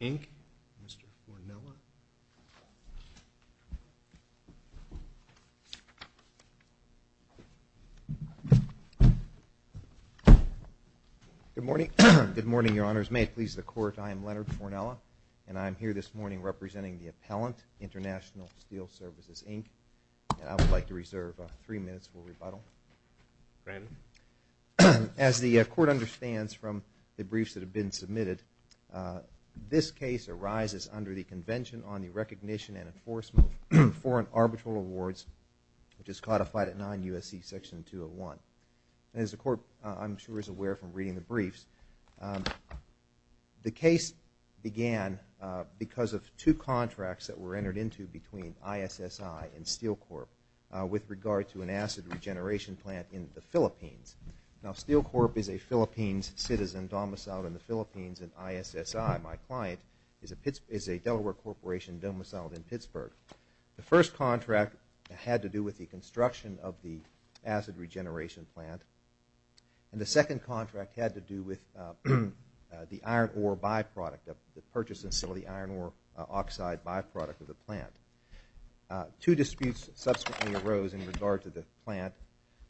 Inc., Mr. Fornella. Good morning. Good morning, Your Honors. May it please the Court, I am Leonard Fornella, and I am here this morning representing the appellant, International Steel Services Inc., and I would like to reserve three minutes for rebuttal. As the Court understands from the briefs that have been submitted, this case arises under the Convention on the Recognition and Enforcement of Foreign Arbitral Awards, which is codified at 9 U.S.C. Section 201. And as the Court, I'm sure, is aware from reading the briefs, the case began because of two contracts that were entered into between ISSI and Steel Corp. with regard to an acid regeneration plant in the Philippines. Now Steel Corp. is a Philippines citizen domiciled in the Philippines, and ISSI, my client, is a Delaware Corporation domiciled in Pittsburgh. The first contract had to do with the construction of the acid regeneration plant, and the second contract had to do with the iron ore byproduct, the purchase and sale of the iron ore oxide byproduct of the plant. Two disputes subsequently arose in regard to the plant.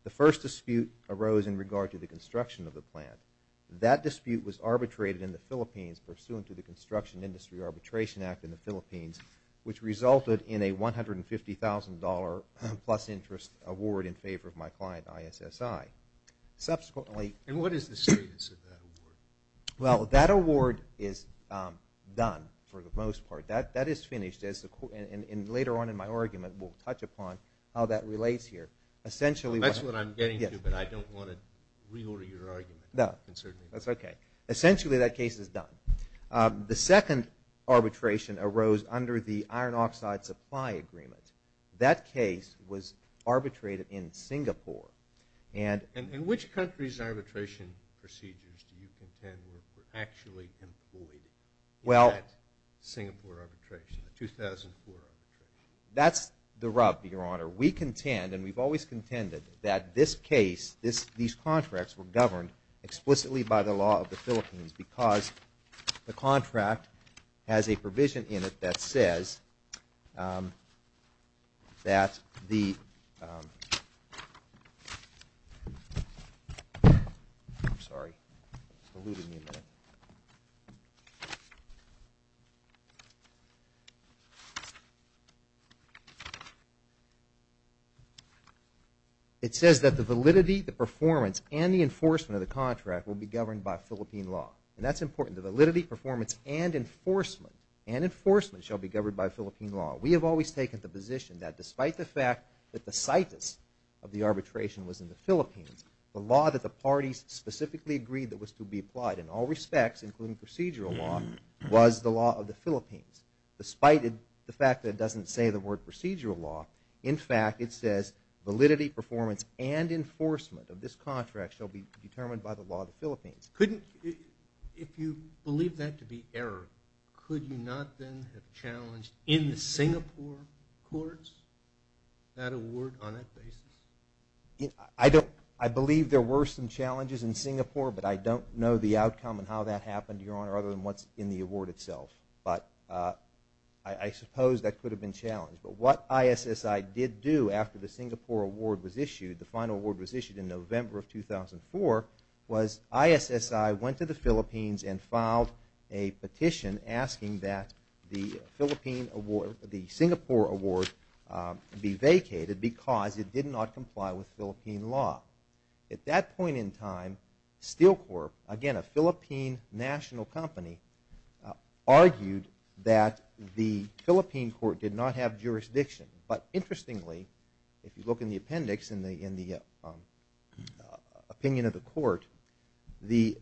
The first dispute arose in regard to the construction of the plant. That dispute was arbitrated in the Philippines pursuant to the Construction Industry Arbitration Act in the Philippines, which resulted in a $150,000 plus interest award in favor of my client, ISSI. Subsequently – And what is the status of that award? Well, that award is done for the most part. That is finished, and later on in my argument we'll touch upon how that relates here. Essentially – That's what I'm getting to, but I don't want to reorder your argument. No, that's okay. Essentially that case is done. The second arbitration arose under the iron oxide supply agreement. That case was arbitrated in Singapore, and – And which countries' arbitration procedures do you contend were actually employed in that Singapore arbitration, 2004 arbitration? That's the rub, Your Honor. We contend, and we've always contended, that this case, these contracts were governed explicitly by the law of the Philippines because the contract has a provision in it that says that the – I'm sorry, I've diluted you a minute. It says that the validity, the performance, and the enforcement of the contract will be governed by Philippine law. And that's important. The validity, performance, and enforcement shall be governed by Philippine law. We have always taken the position that despite the fact that the situs of the arbitration was in the Philippines, the law that the parties specifically agreed that was to be applied in all respects, including procedural law, was the law of the Philippines. Despite the fact that it doesn't say the word procedural law, in fact, it says validity, performance, and enforcement of this contract shall be determined by the law of the Philippines. Couldn't – if you believe that to be error, could you not then have challenged in the Singapore courts that award on that basis? I don't – I believe there were some challenges in Singapore, but I don't know the outcome and how that happened, Your Honor, other than what's in the award itself. But I suppose that could have been challenged. But what ISSI did do after the Singapore award was issued, the final award was issued in November of 2004, was ISSI went to the Philippines and filed a petition asking that the Philippine award – the Singapore award be vacated because it did not comply with Philippine law. At that point in time, Steel Corp, again, a Philippine national company, argued that the Philippine court did not have jurisdiction. But interestingly, if you look in the appendix in the opinion of the court, the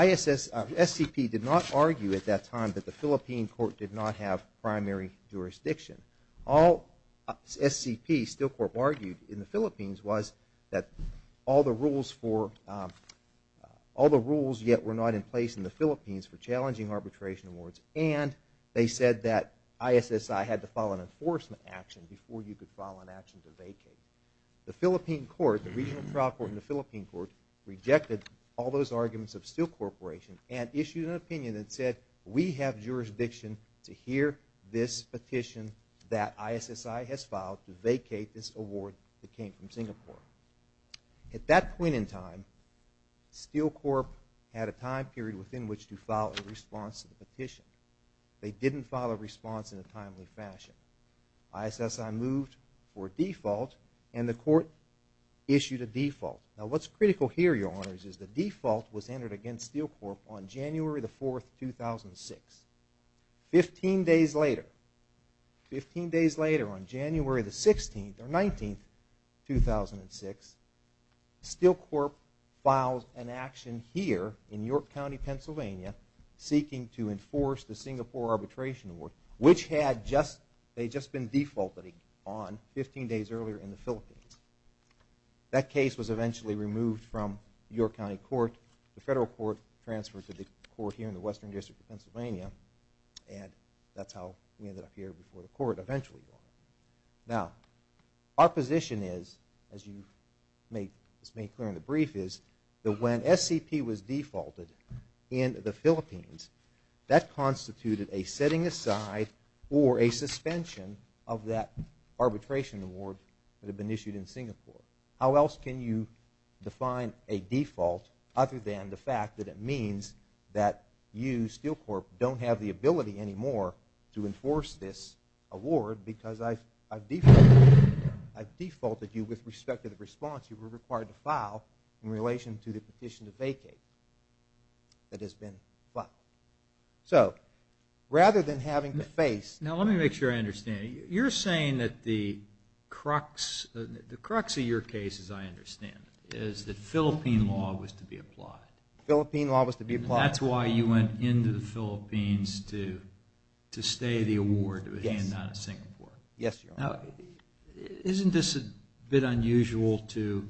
ISS – SCP did not argue at that time that the Philippine court did not have primary jurisdiction. All SCP, Steel Corp, argued in the Philippines was that all the rules for – all the rules yet were not in place in the Philippines for challenging arbitration awards, and they said that ISSI had to file an enforcement action before you could file an action to vacate. The Philippine court, the regional trial court in the Philippine court, rejected all those arguments of Steel Corp and issued an opinion that said we have jurisdiction to hear this petition that ISSI has filed to vacate this award that came from Singapore. At that point in time, Steel Corp had a time period within which to file a response to the petition. They didn't file a response in a timely fashion. ISSI moved for default, and the court issued a default. Now what's Steel Corp on January the 4th, 2006? Fifteen days later, fifteen days later on January the 16th or 19th, 2006, Steel Corp files an action here in York County, Pennsylvania, seeking to enforce the Singapore arbitration award, which had just – they had just been defaulted on fifteen days earlier in the Philippines. That case was eventually removed from York County court. The federal court transferred to the court here in the Western District of Pennsylvania, and that's how we ended up here before the court eventually. Now our position is, as you made clear in the brief, is that when SCP was defaulted in the Philippines, that constituted a setting aside or a suspension of that arbitration award that had been issued in Singapore. How else can you define a default other than the fact that it means that you, Steel Corp, don't have the ability anymore to enforce this award because I've defaulted you with respect to the response you were required to file in relation to the petition to vacate that has been filed. So rather than having to face – Now let me make sure I understand. You're saying that the crux of your case, as I understand it, is that Philippine law was to be applied. Philippine law was to be applied. That's why you went into the Philippines to stay the award that was handed out in Singapore. Isn't this a bit unusual to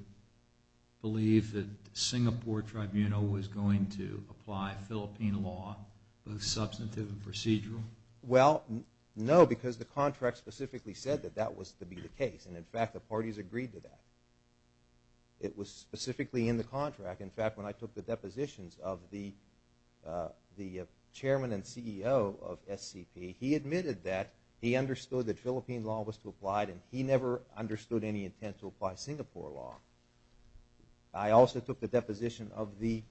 believe that the Singapore Tribunal was going to apply Philippine law, both substantive and procedural? Well, no, because the contract specifically said that that was to be the case. And in fact, the parties agreed to that. It was specifically in the contract. In fact, when I took the depositions of the chairman and CEO of SCP, he admitted that he understood that Philippine law was to be applied and he never understood any intent to apply Singapore law. I also took the deposition of the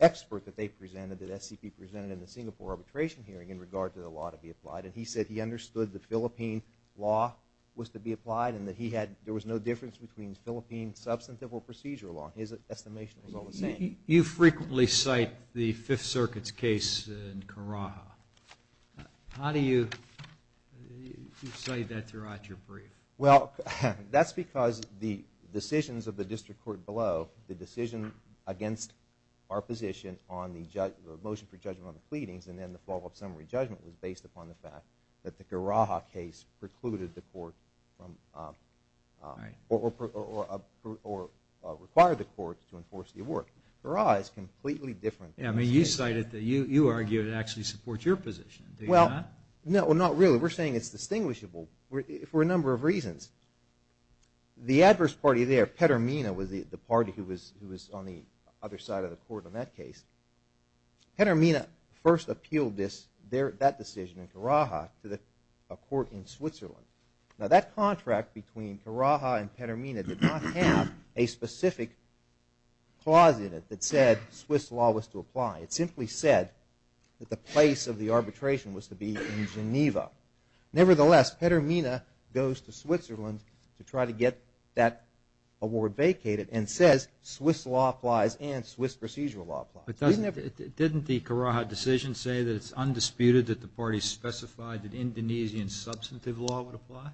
expert that they presented, that SCP presented in the Singapore arbitration hearing in regard to the law to be applied. And he said he understood that Philippine law was to be applied and that he had – there was no difference between Philippine substantive or procedural law. His estimation was all the same. You frequently cite the Fifth Circuit's case in Karaha. How do you cite that throughout your brief? Well, that's because the decisions of the district court below, the decision against our position on the motion for judgment on the pleadings and then the follow-up summary judgment was based upon the fact that the Karaha case precluded the court from – or required the court to enforce the award. Karaha is completely different. Yeah, I mean, you cite it – you argue it actually supports your position. Do you not? No, not really. We're saying it's distinguishable for a number of reasons. The adverse party there, Petermina, was the party who was on the other side of the court on that case. Petermina first appealed this – that decision in Karaha to a court in Switzerland. Now, that contract between Karaha and Petermina did not have a specific clause in it that said Swiss law was to apply. It simply said that the place of the arbitration was to be in Geneva. Nevertheless, Petermina goes to Switzerland to try to get that award vacated and says Swiss law applies and Swiss procedural law applies. But doesn't – didn't the Karaha decision say that it's undisputed that the party specified that Indonesian substantive law would apply?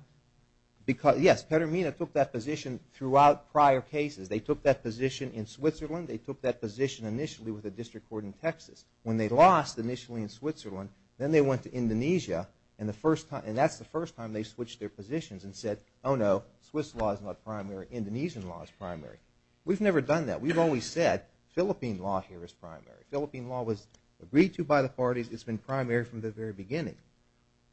Because – yes, Petermina took that position throughout prior cases. They took that position in Switzerland. They took that position initially with a district court in Texas. When they lost initially in Switzerland, then they went to Indonesia and the first time – and that's the first time they switched their positions and said, oh, no, Swiss law is not primary. Indonesian law is primary. We've never done that. We've always said Philippine law here is primary. Philippine law was agreed to by the parties. It's been primary from the very beginning.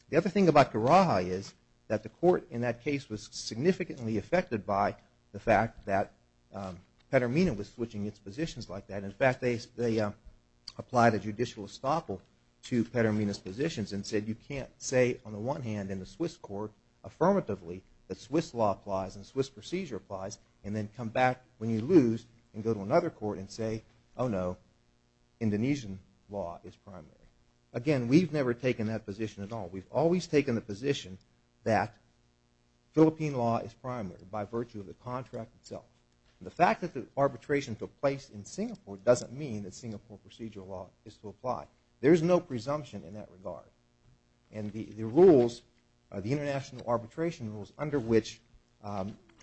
The other thing about Karaha is that the court in that case was significantly affected by the fact that Petermina was switching its positions like that. In fact, they applied a judicial estoppel to Petermina's positions and said you can't say on the one hand in the Swiss court affirmatively that Swiss law applies and Swiss procedure applies and then come back when you lose and go to another court and say, oh, no, Indonesian law is primary. Again, we've never taken that position at all. We've always taken the position that the contract itself. The fact that the arbitration took place in Singapore doesn't mean that Singapore procedure law is to apply. There's no presumption in that regard. And the rules, the international arbitration rules under which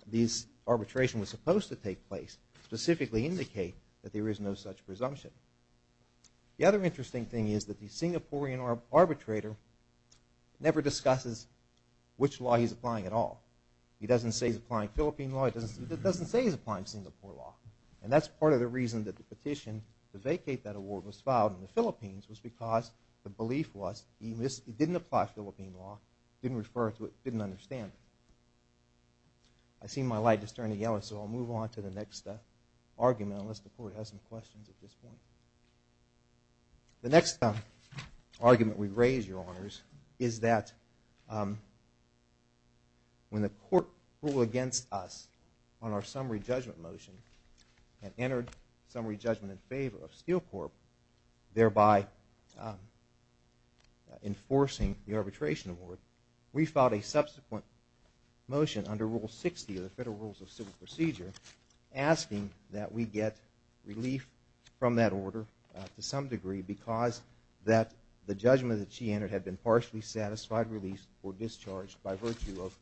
this arbitration was supposed to take place specifically indicate that there is no such presumption. The other interesting thing is that the Singaporean arbitrator never discusses which law he's applying. Philippine law, it doesn't say he's applying Singapore law. And that's part of the reason that the petition to vacate that award was filed in the Philippines was because the belief was he didn't apply Philippine law, didn't refer to it, didn't understand it. I see my light is turning yellow, so I'll move on to the next argument unless the court has some questions at this point. The next argument we raise, Your Honors, is that when the court ruled against us on our summary judgment motion and entered summary judgment in favor of Steel Corp, thereby enforcing the arbitration award, we filed a subsequent motion under Rule 60 of the Federal Rules of Civil Procedure asking that we get relief from that order to some degree because that the judgment that she entered had been partially satisfied relief or discharged by virtue of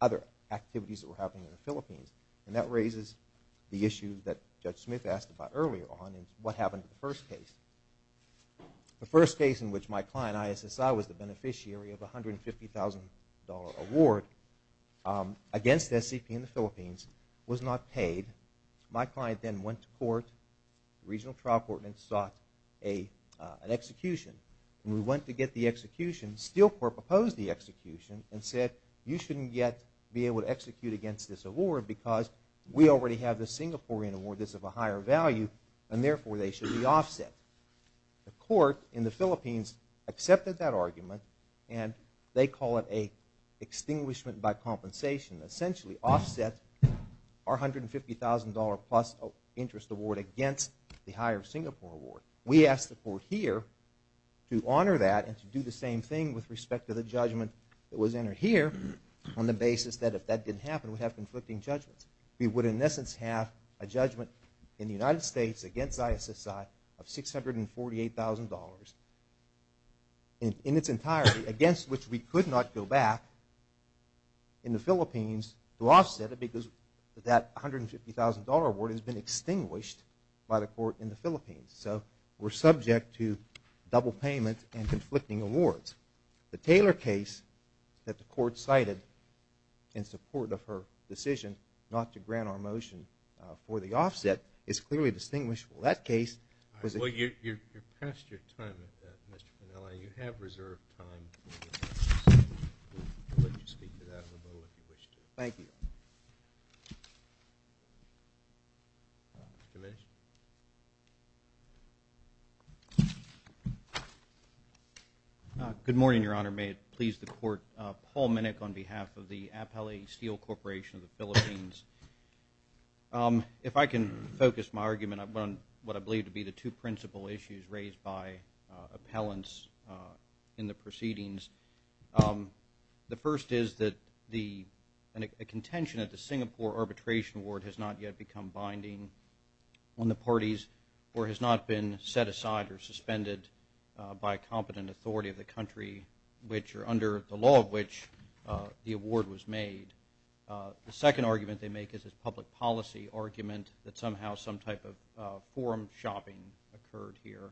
other activities that were happening in the Philippines. And that raises the issue that Judge Smith asked about earlier on and what happened to the first case. The first case in which my client, ISSI, was the beneficiary of a $150,000 award against SCP in the Philippines was not paid. My client then went to court, the regional trial court and sought an execution. When we went to get the execution, Steel Corp opposed the execution and said you shouldn't yet be able to execute against this award because we already have the Singaporean award that's of a higher value and therefore they should be offset. The court in the Philippines accepted that argument and they call it a extinguishment by compensation, essentially offset our $150,000 plus interest award against the higher Singapore award. We asked the court here to honor that and to do the same thing with respect to the judgment that was entered here on the basis that if that didn't happen we'd have conflicting judgments. We would in essence have a judgment in the United States against ISSI of $648,000 in its entirety against which we could not go back in the Philippines to offset it because that $150,000 award has been extinguished by the court in the Philippines. So we're subject to double payment and conflicting awards. The Taylor case that the court cited in support of her decision not to grant our motion for the offset is clearly distinguishable. That case was a- Well, you're past your time at that, Mr. Piniella. You have reserved time. We'll let you speak to that in a moment if you wish to. Thank you. Commissioner? Good morning, Your Honor. May it please the court. Paul Minnick on behalf of the Apele Steel Corporation of the Philippines. If I can focus my argument on what I believe to be the two principal issues raised by appellants in the proceedings. The first is that a contention at the Singapore Arbitration Award has not yet become binding on the parties or has not been set aside or suspended by a competent authority of the country which or under the award was made. The second argument they make is a public policy argument that somehow some type of forum shopping occurred here.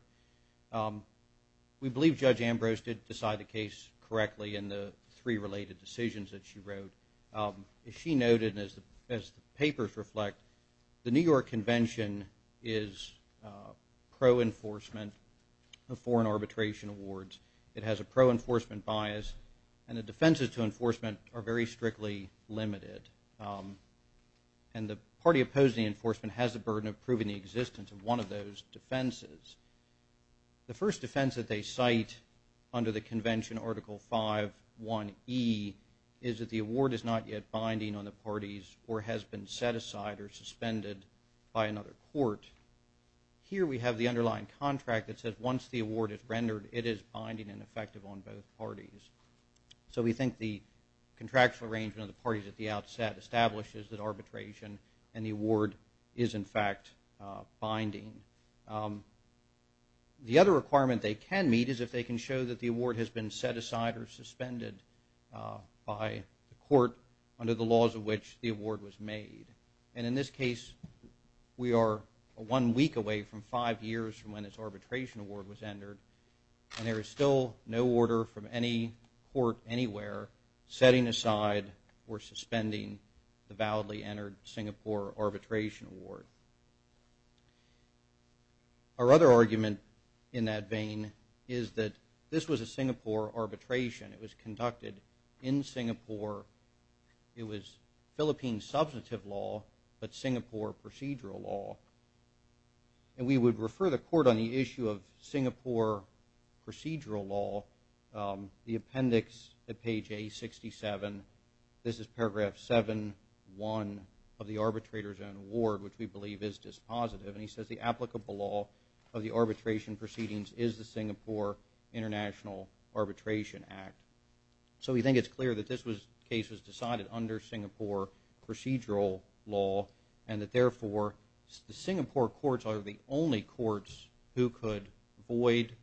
We believe Judge Ambrose did decide the case correctly in the three related decisions that she wrote. She noted as the papers reflect the New York Convention is pro-enforcement of foreign arbitration awards. It has a pro-enforcement bias and the defenses to enforcement are very strictly limited. And the party opposing enforcement has a burden of proving the existence of one of those defenses. The first defense that they cite under the Convention Article 5.1.E is that the award is not yet binding on the parties or has been set aside or suspended by another court. Here we have the underlying contract that says once the award is rendered it is binding and effective on both parties. So we think the contractual arrangement of the parties at the outset establishes that arbitration and the award is in fact binding. The other requirement they can meet is if they can show that the award has been set aside or suspended by the court under the laws of which the award was made. And in this case we are one week away from five years from when this arbitration award was entered and there is still no order from any court anywhere setting aside or suspending the validly entered Singapore arbitration award. Our other argument in that vein is that this was a Singapore arbitration. It was conducted in Singapore. It was Philippine substantive law but Singapore procedural law. And we would refer the court on the issue of Singapore procedural law. The appendix at page A67. This is paragraph 7.1 of the arbitrator's own award which we believe is dispositive. And he says the applicable law of the arbitration proceedings is the Singapore International Arbitration Act. So we think it is clear that this case was decided under Singapore procedural law and that therefore the Singapore courts are the only courts who could void,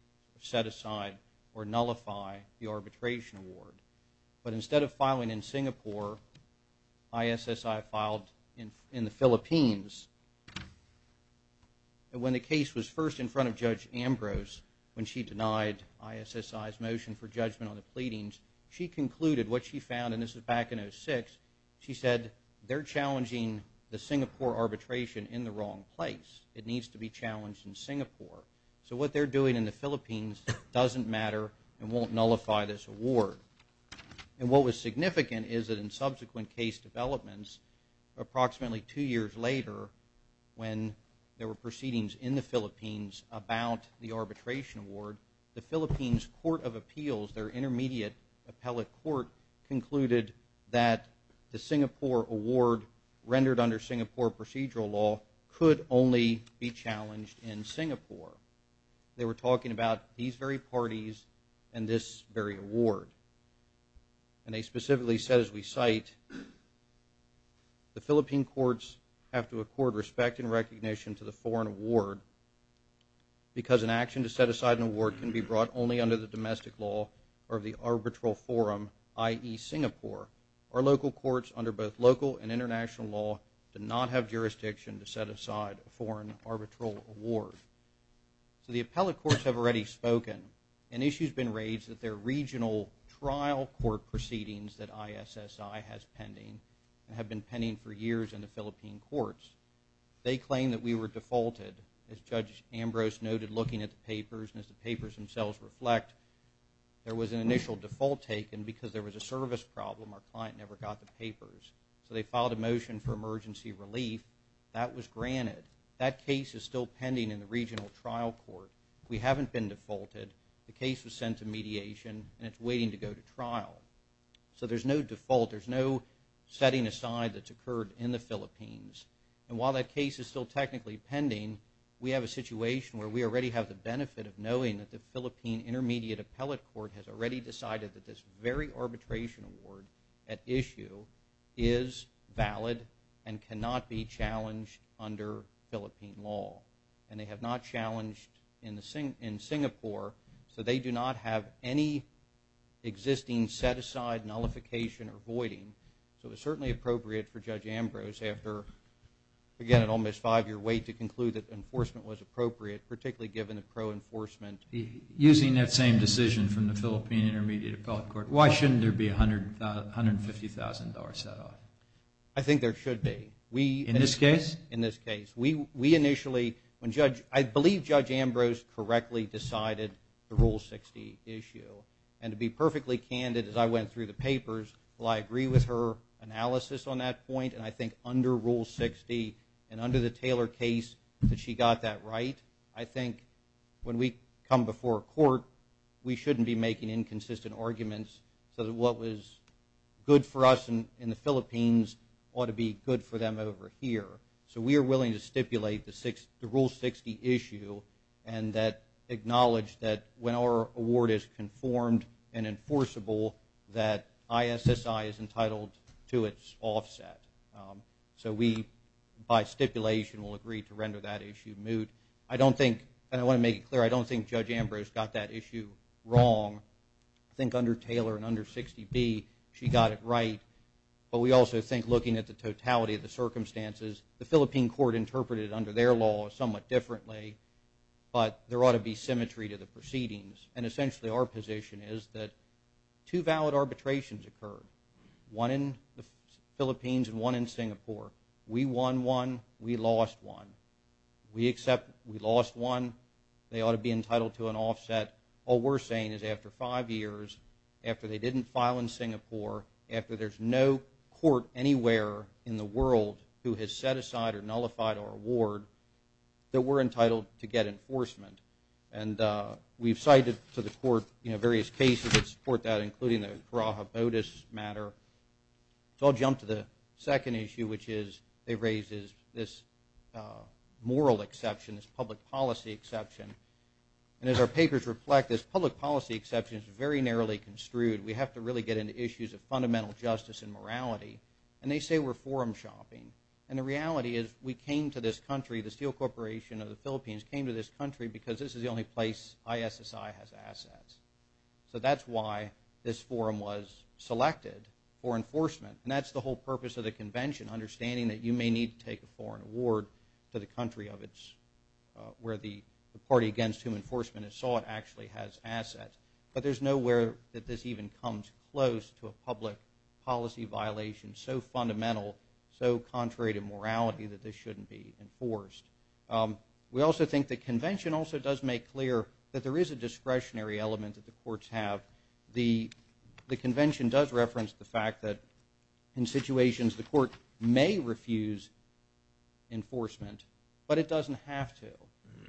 set aside or nullify the arbitration award. But instead of filing in Singapore, ISSI filed in the Philippines. When the case was first in front of Judge Ambrose when she denied ISSI's motion for judgment on the pleadings, she concluded what she found and this is back in 06. She said they are challenging the Singapore arbitration in the wrong place. It needs to be challenged in Singapore. So what they are doing in the Philippines doesn't matter and won't nullify this award. And what was significant is that in subsequent case developments approximately two years later when there were proceedings in the Philippines about the arbitration award, the Philippines Court of Appeals, their intermediate appellate court concluded that the Singapore award rendered under Singapore procedural law could only be challenged in Singapore. They were talking about these very parties and this very award. And they specifically said as we cite, the Philippine courts have to accord respect and recognition to the foreign award because an action to set aside an award can be brought only under the domestic law or the arbitral forum, i.e. Singapore. Our local courts under both local and international law do not have jurisdiction to set aside a foreign arbitral award. So the appellate courts have already spoken and issues been raised that their regional trial court proceedings that ISSI has pending and have been pending for years in the Philippine courts. They claim that we were defaulted as Judge Ambrose noted looking at the papers and as the papers themselves reflect, there was an initial default taken because there was a service problem. Our client never got the papers. So they filed a motion for emergency relief. That was granted. That case is still pending in the regional trial court. We haven't been defaulted. The case was sent to mediation and it's waiting to go to trial. So there's no default. There's no setting aside that's occurred in the Philippines. And while that case is still technically pending, we have a situation where we already have the benefit of knowing that the Philippine Intermediate Appellate Court has already decided that this very arbitration award at issue is valid and cannot be challenged under Philippine law. And they have not challenged in Singapore. So they do not have any existing set aside nullification or voiding. So it's certainly appropriate for Judge Ambrose after again an almost five year wait to conclude that enforcement was appropriate particularly given the pro-enforcement. Using that same decision from the Philippine Intermediate Appellate Court, why shouldn't there be $150,000 set off? I think there should be. In this case? In this case. We initially, I believe Judge Ambrose correctly decided the Rule 60 issue and to be perfectly candid as I went through the papers, while I agree with her analysis on that point and I think under Rule 60 and under the Taylor case that she got that right, I think when we come before court, we shouldn't be making inconsistent arguments so that what was good for us in the Philippines ought to be good for them over here. So we are willing to stipulate the Rule 60 issue and that acknowledge that when our award is conformed and enforceable that ISSI is entitled to its offset. So we by stipulation will agree to render that issue moot. I don't think, and I want to make it clear, I don't think Judge Ambrose got that issue wrong. I think under Taylor and under 60B she got it right. But we also think looking at the totality of the circumstances, the Philippine court interpreted it under their law somewhat differently, but there ought to be symmetry to the proceedings. And essentially our position is that two valid arbitrations occurred, one in the Philippines and one in Singapore. We won one, we lost one. We accept we lost one, they ought to be entitled to an offset. All we're saying is after five years, after they didn't file in Singapore, after there's no court anywhere in the world who has set aside or nullified our award, that we're entitled to get enforcement. And we've cited to the court, you know, various cases that support that including the Karaha Bodas matter. So I'll jump to the second issue which is it raises this moral exception, this public policy exception. And as our papers reflect this public policy exception is very narrowly construed. We have to really get into issues of fundamental justice and morality. And they say we're forum shopping. And the reality is we came to this country, the Steel Corporation of the Philippines came to this country because this is the only place ISSI has assets. So that's why this forum was selected for enforcement. And that's the whole purpose of the convention, understanding that you may need to take a foreign award to the country of its, where the party against whom enforcement is sought actually has assets. But there's nowhere that this even comes close to a public policy violation so fundamental, so contrary to morality that this shouldn't be enforced. We also think the convention also does make clear that there is a discretionary element that the courts have. The convention does reference the fact that in situations the court may refuse enforcement, but it doesn't have to.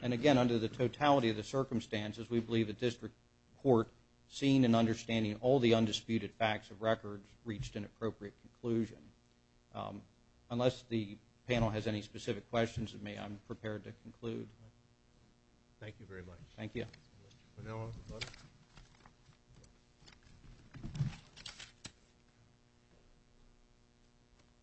And again, under the totality of circumstances we believe the district court, seeing and understanding all the undisputed facts of record, reached an appropriate conclusion. Unless the panel has any specific questions of me, I'm prepared to conclude. Thank you very much. Thank you.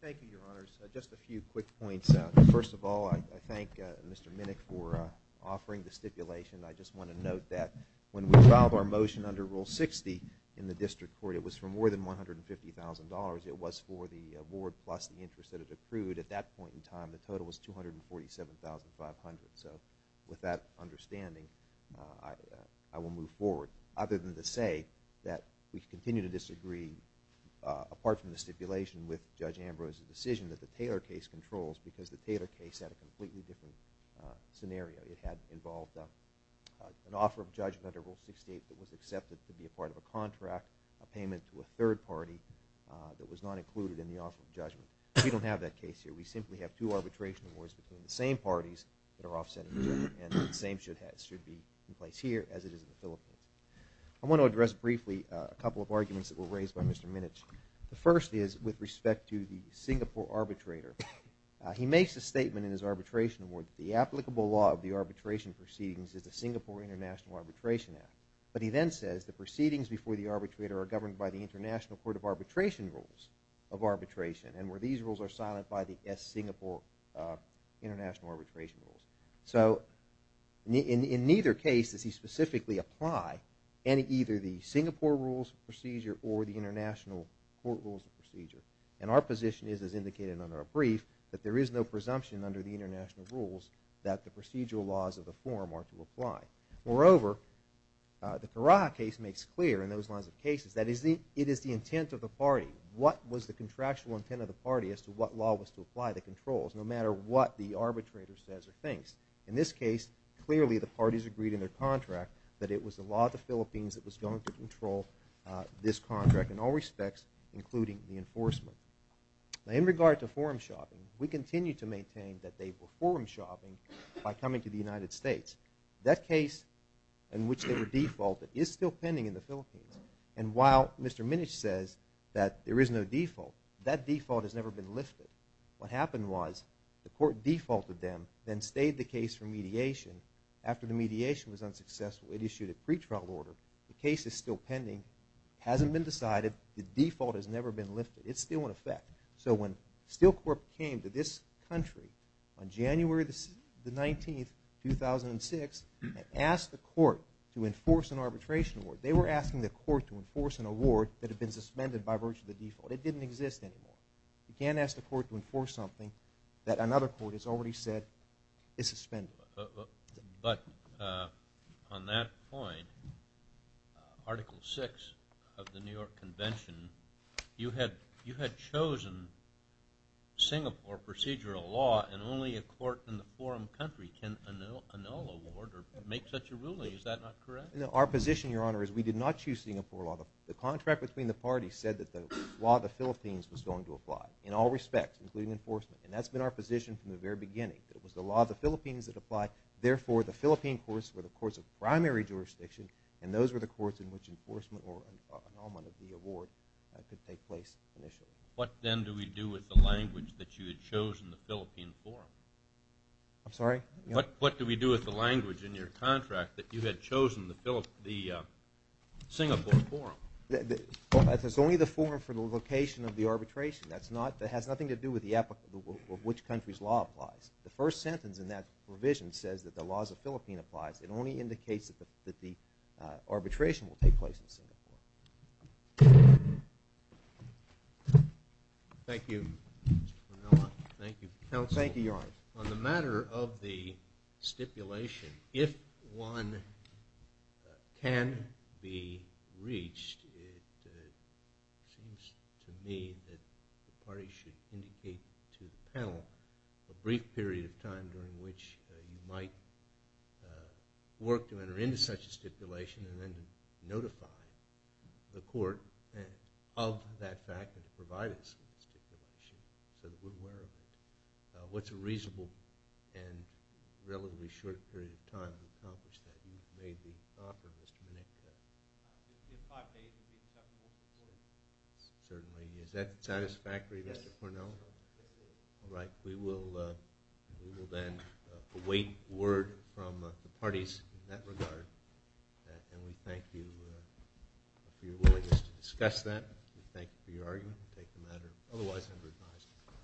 Thank you, Your Honors. Just a few quick points. First of all, I thank Mr. Minnick for offering the stipulation. I just want to note that when we filed our motion under Rule 60 in the district court, it was for more than $150,000. It was for the award plus the interest that it accrued. At that point in time, the total was $247,500. So with that understanding, I will move forward. Other than to say that we continue to disagree, apart from the stipulation with Judge Ambrose's decision that the Taylor case controls, because the Taylor case had a completely different scenario. It had involved an offer of judgment under Rule 68 that was accepted to be a part of a contract, a payment to a third party that was not included in the offer of judgment. We don't have that case here. We simply have two arbitration awards between the same parties that are offsetting each other, and the same should be in place here as it is in the Philippines. I want to address briefly a couple of arguments that were raised by Mr. Minnick. The first is with respect to the Singapore arbitrator. He makes a statement in his arbitration award that the applicable law of the arbitration proceedings is the Singapore International Arbitration Act. But he then says the proceedings before the arbitrator are governed by the International Court of Arbitration rules of arbitration, and where these rules are silent by the Singapore International Arbitration Rules. So in neither case does he specifically apply either the Singapore Rules of Procedure or the International Court Rules of Procedure. And our position is, as indicated under our brief, that there is no presumption under the international rules that the procedural laws of the forum are to apply. Moreover, the Karaha case makes clear in those lines of cases that it is the intent of the party. What was the contractual intent of the party as to what law was to apply the controls, no matter what the arbitrator says or thinks. In this case, clearly the parties agreed in their contract that it was the law of the Philippines that was going to control this contract in all respects, including the enforcement. Now in regard to forum shopping, we continue to maintain that they were forum shopping by coming to the United States. That case in which they were defaulted is still pending in the Philippines. And while Mr. Minich says that there is no default, that default has never been lifted. What happened was the court defaulted them, then stayed the case for mediation. After the mediation was unsuccessful, it issued a pretrial order. The case is still pending. It hasn't been decided. The default has never been lifted. It's still in effect. So when Steel Corp came to this country on January the 19th, 2006, and asked the court to enforce an arbitration award, they were asking the court to enforce an award that had been suspended by virtue of the default. It didn't exist anymore. You can't ask the court to enforce something that another court has already said is suspended. But on that point, Article VI of the New York Convention, you had chosen Singapore procedural law and only a court in the forum country can annul award or make such a ruling. Is that not correct? Our position, Your Honor, is we did not choose Singapore law. The contract between the parties said that the law of the Philippines was going to apply in all respects, including enforcement. And that's been our position from the very beginning. It was the law of the Philippines that applied. Therefore, the Philippine courts were the courts of primary jurisdiction, and those were the courts in which enforcement or annulment of the award could take place initially. What then do we do with the language that you had chosen the Philippine forum? I'm sorry? What do we do with the language in your contract that you had chosen the Singapore forum? It's only the forum for the location of the arbitration. That has nothing to do with which country's law applies. The first sentence in that provision says that the laws of the Philippines applies. It only indicates that the arbitration will take place in Singapore. Thank you. Thank you. Thank you, Your Honor. On the matter of the stipulation, if one can be reached, it seems to me that the parties should indicate to the panel a brief period of time during which you might work to enter into such a stipulation and then notify the court of that fact that it provided such a reasonable and relatively short period of time to accomplish that. You've made the offer, Mr. Menekis. If five days would be acceptable. Certainly. Is that satisfactory, Mr. Cornell? Yes. All right. We will then await word from the parties in that regard, and we thank you for your willingness to discuss that. We thank you for your argument. Otherwise, I'm revised.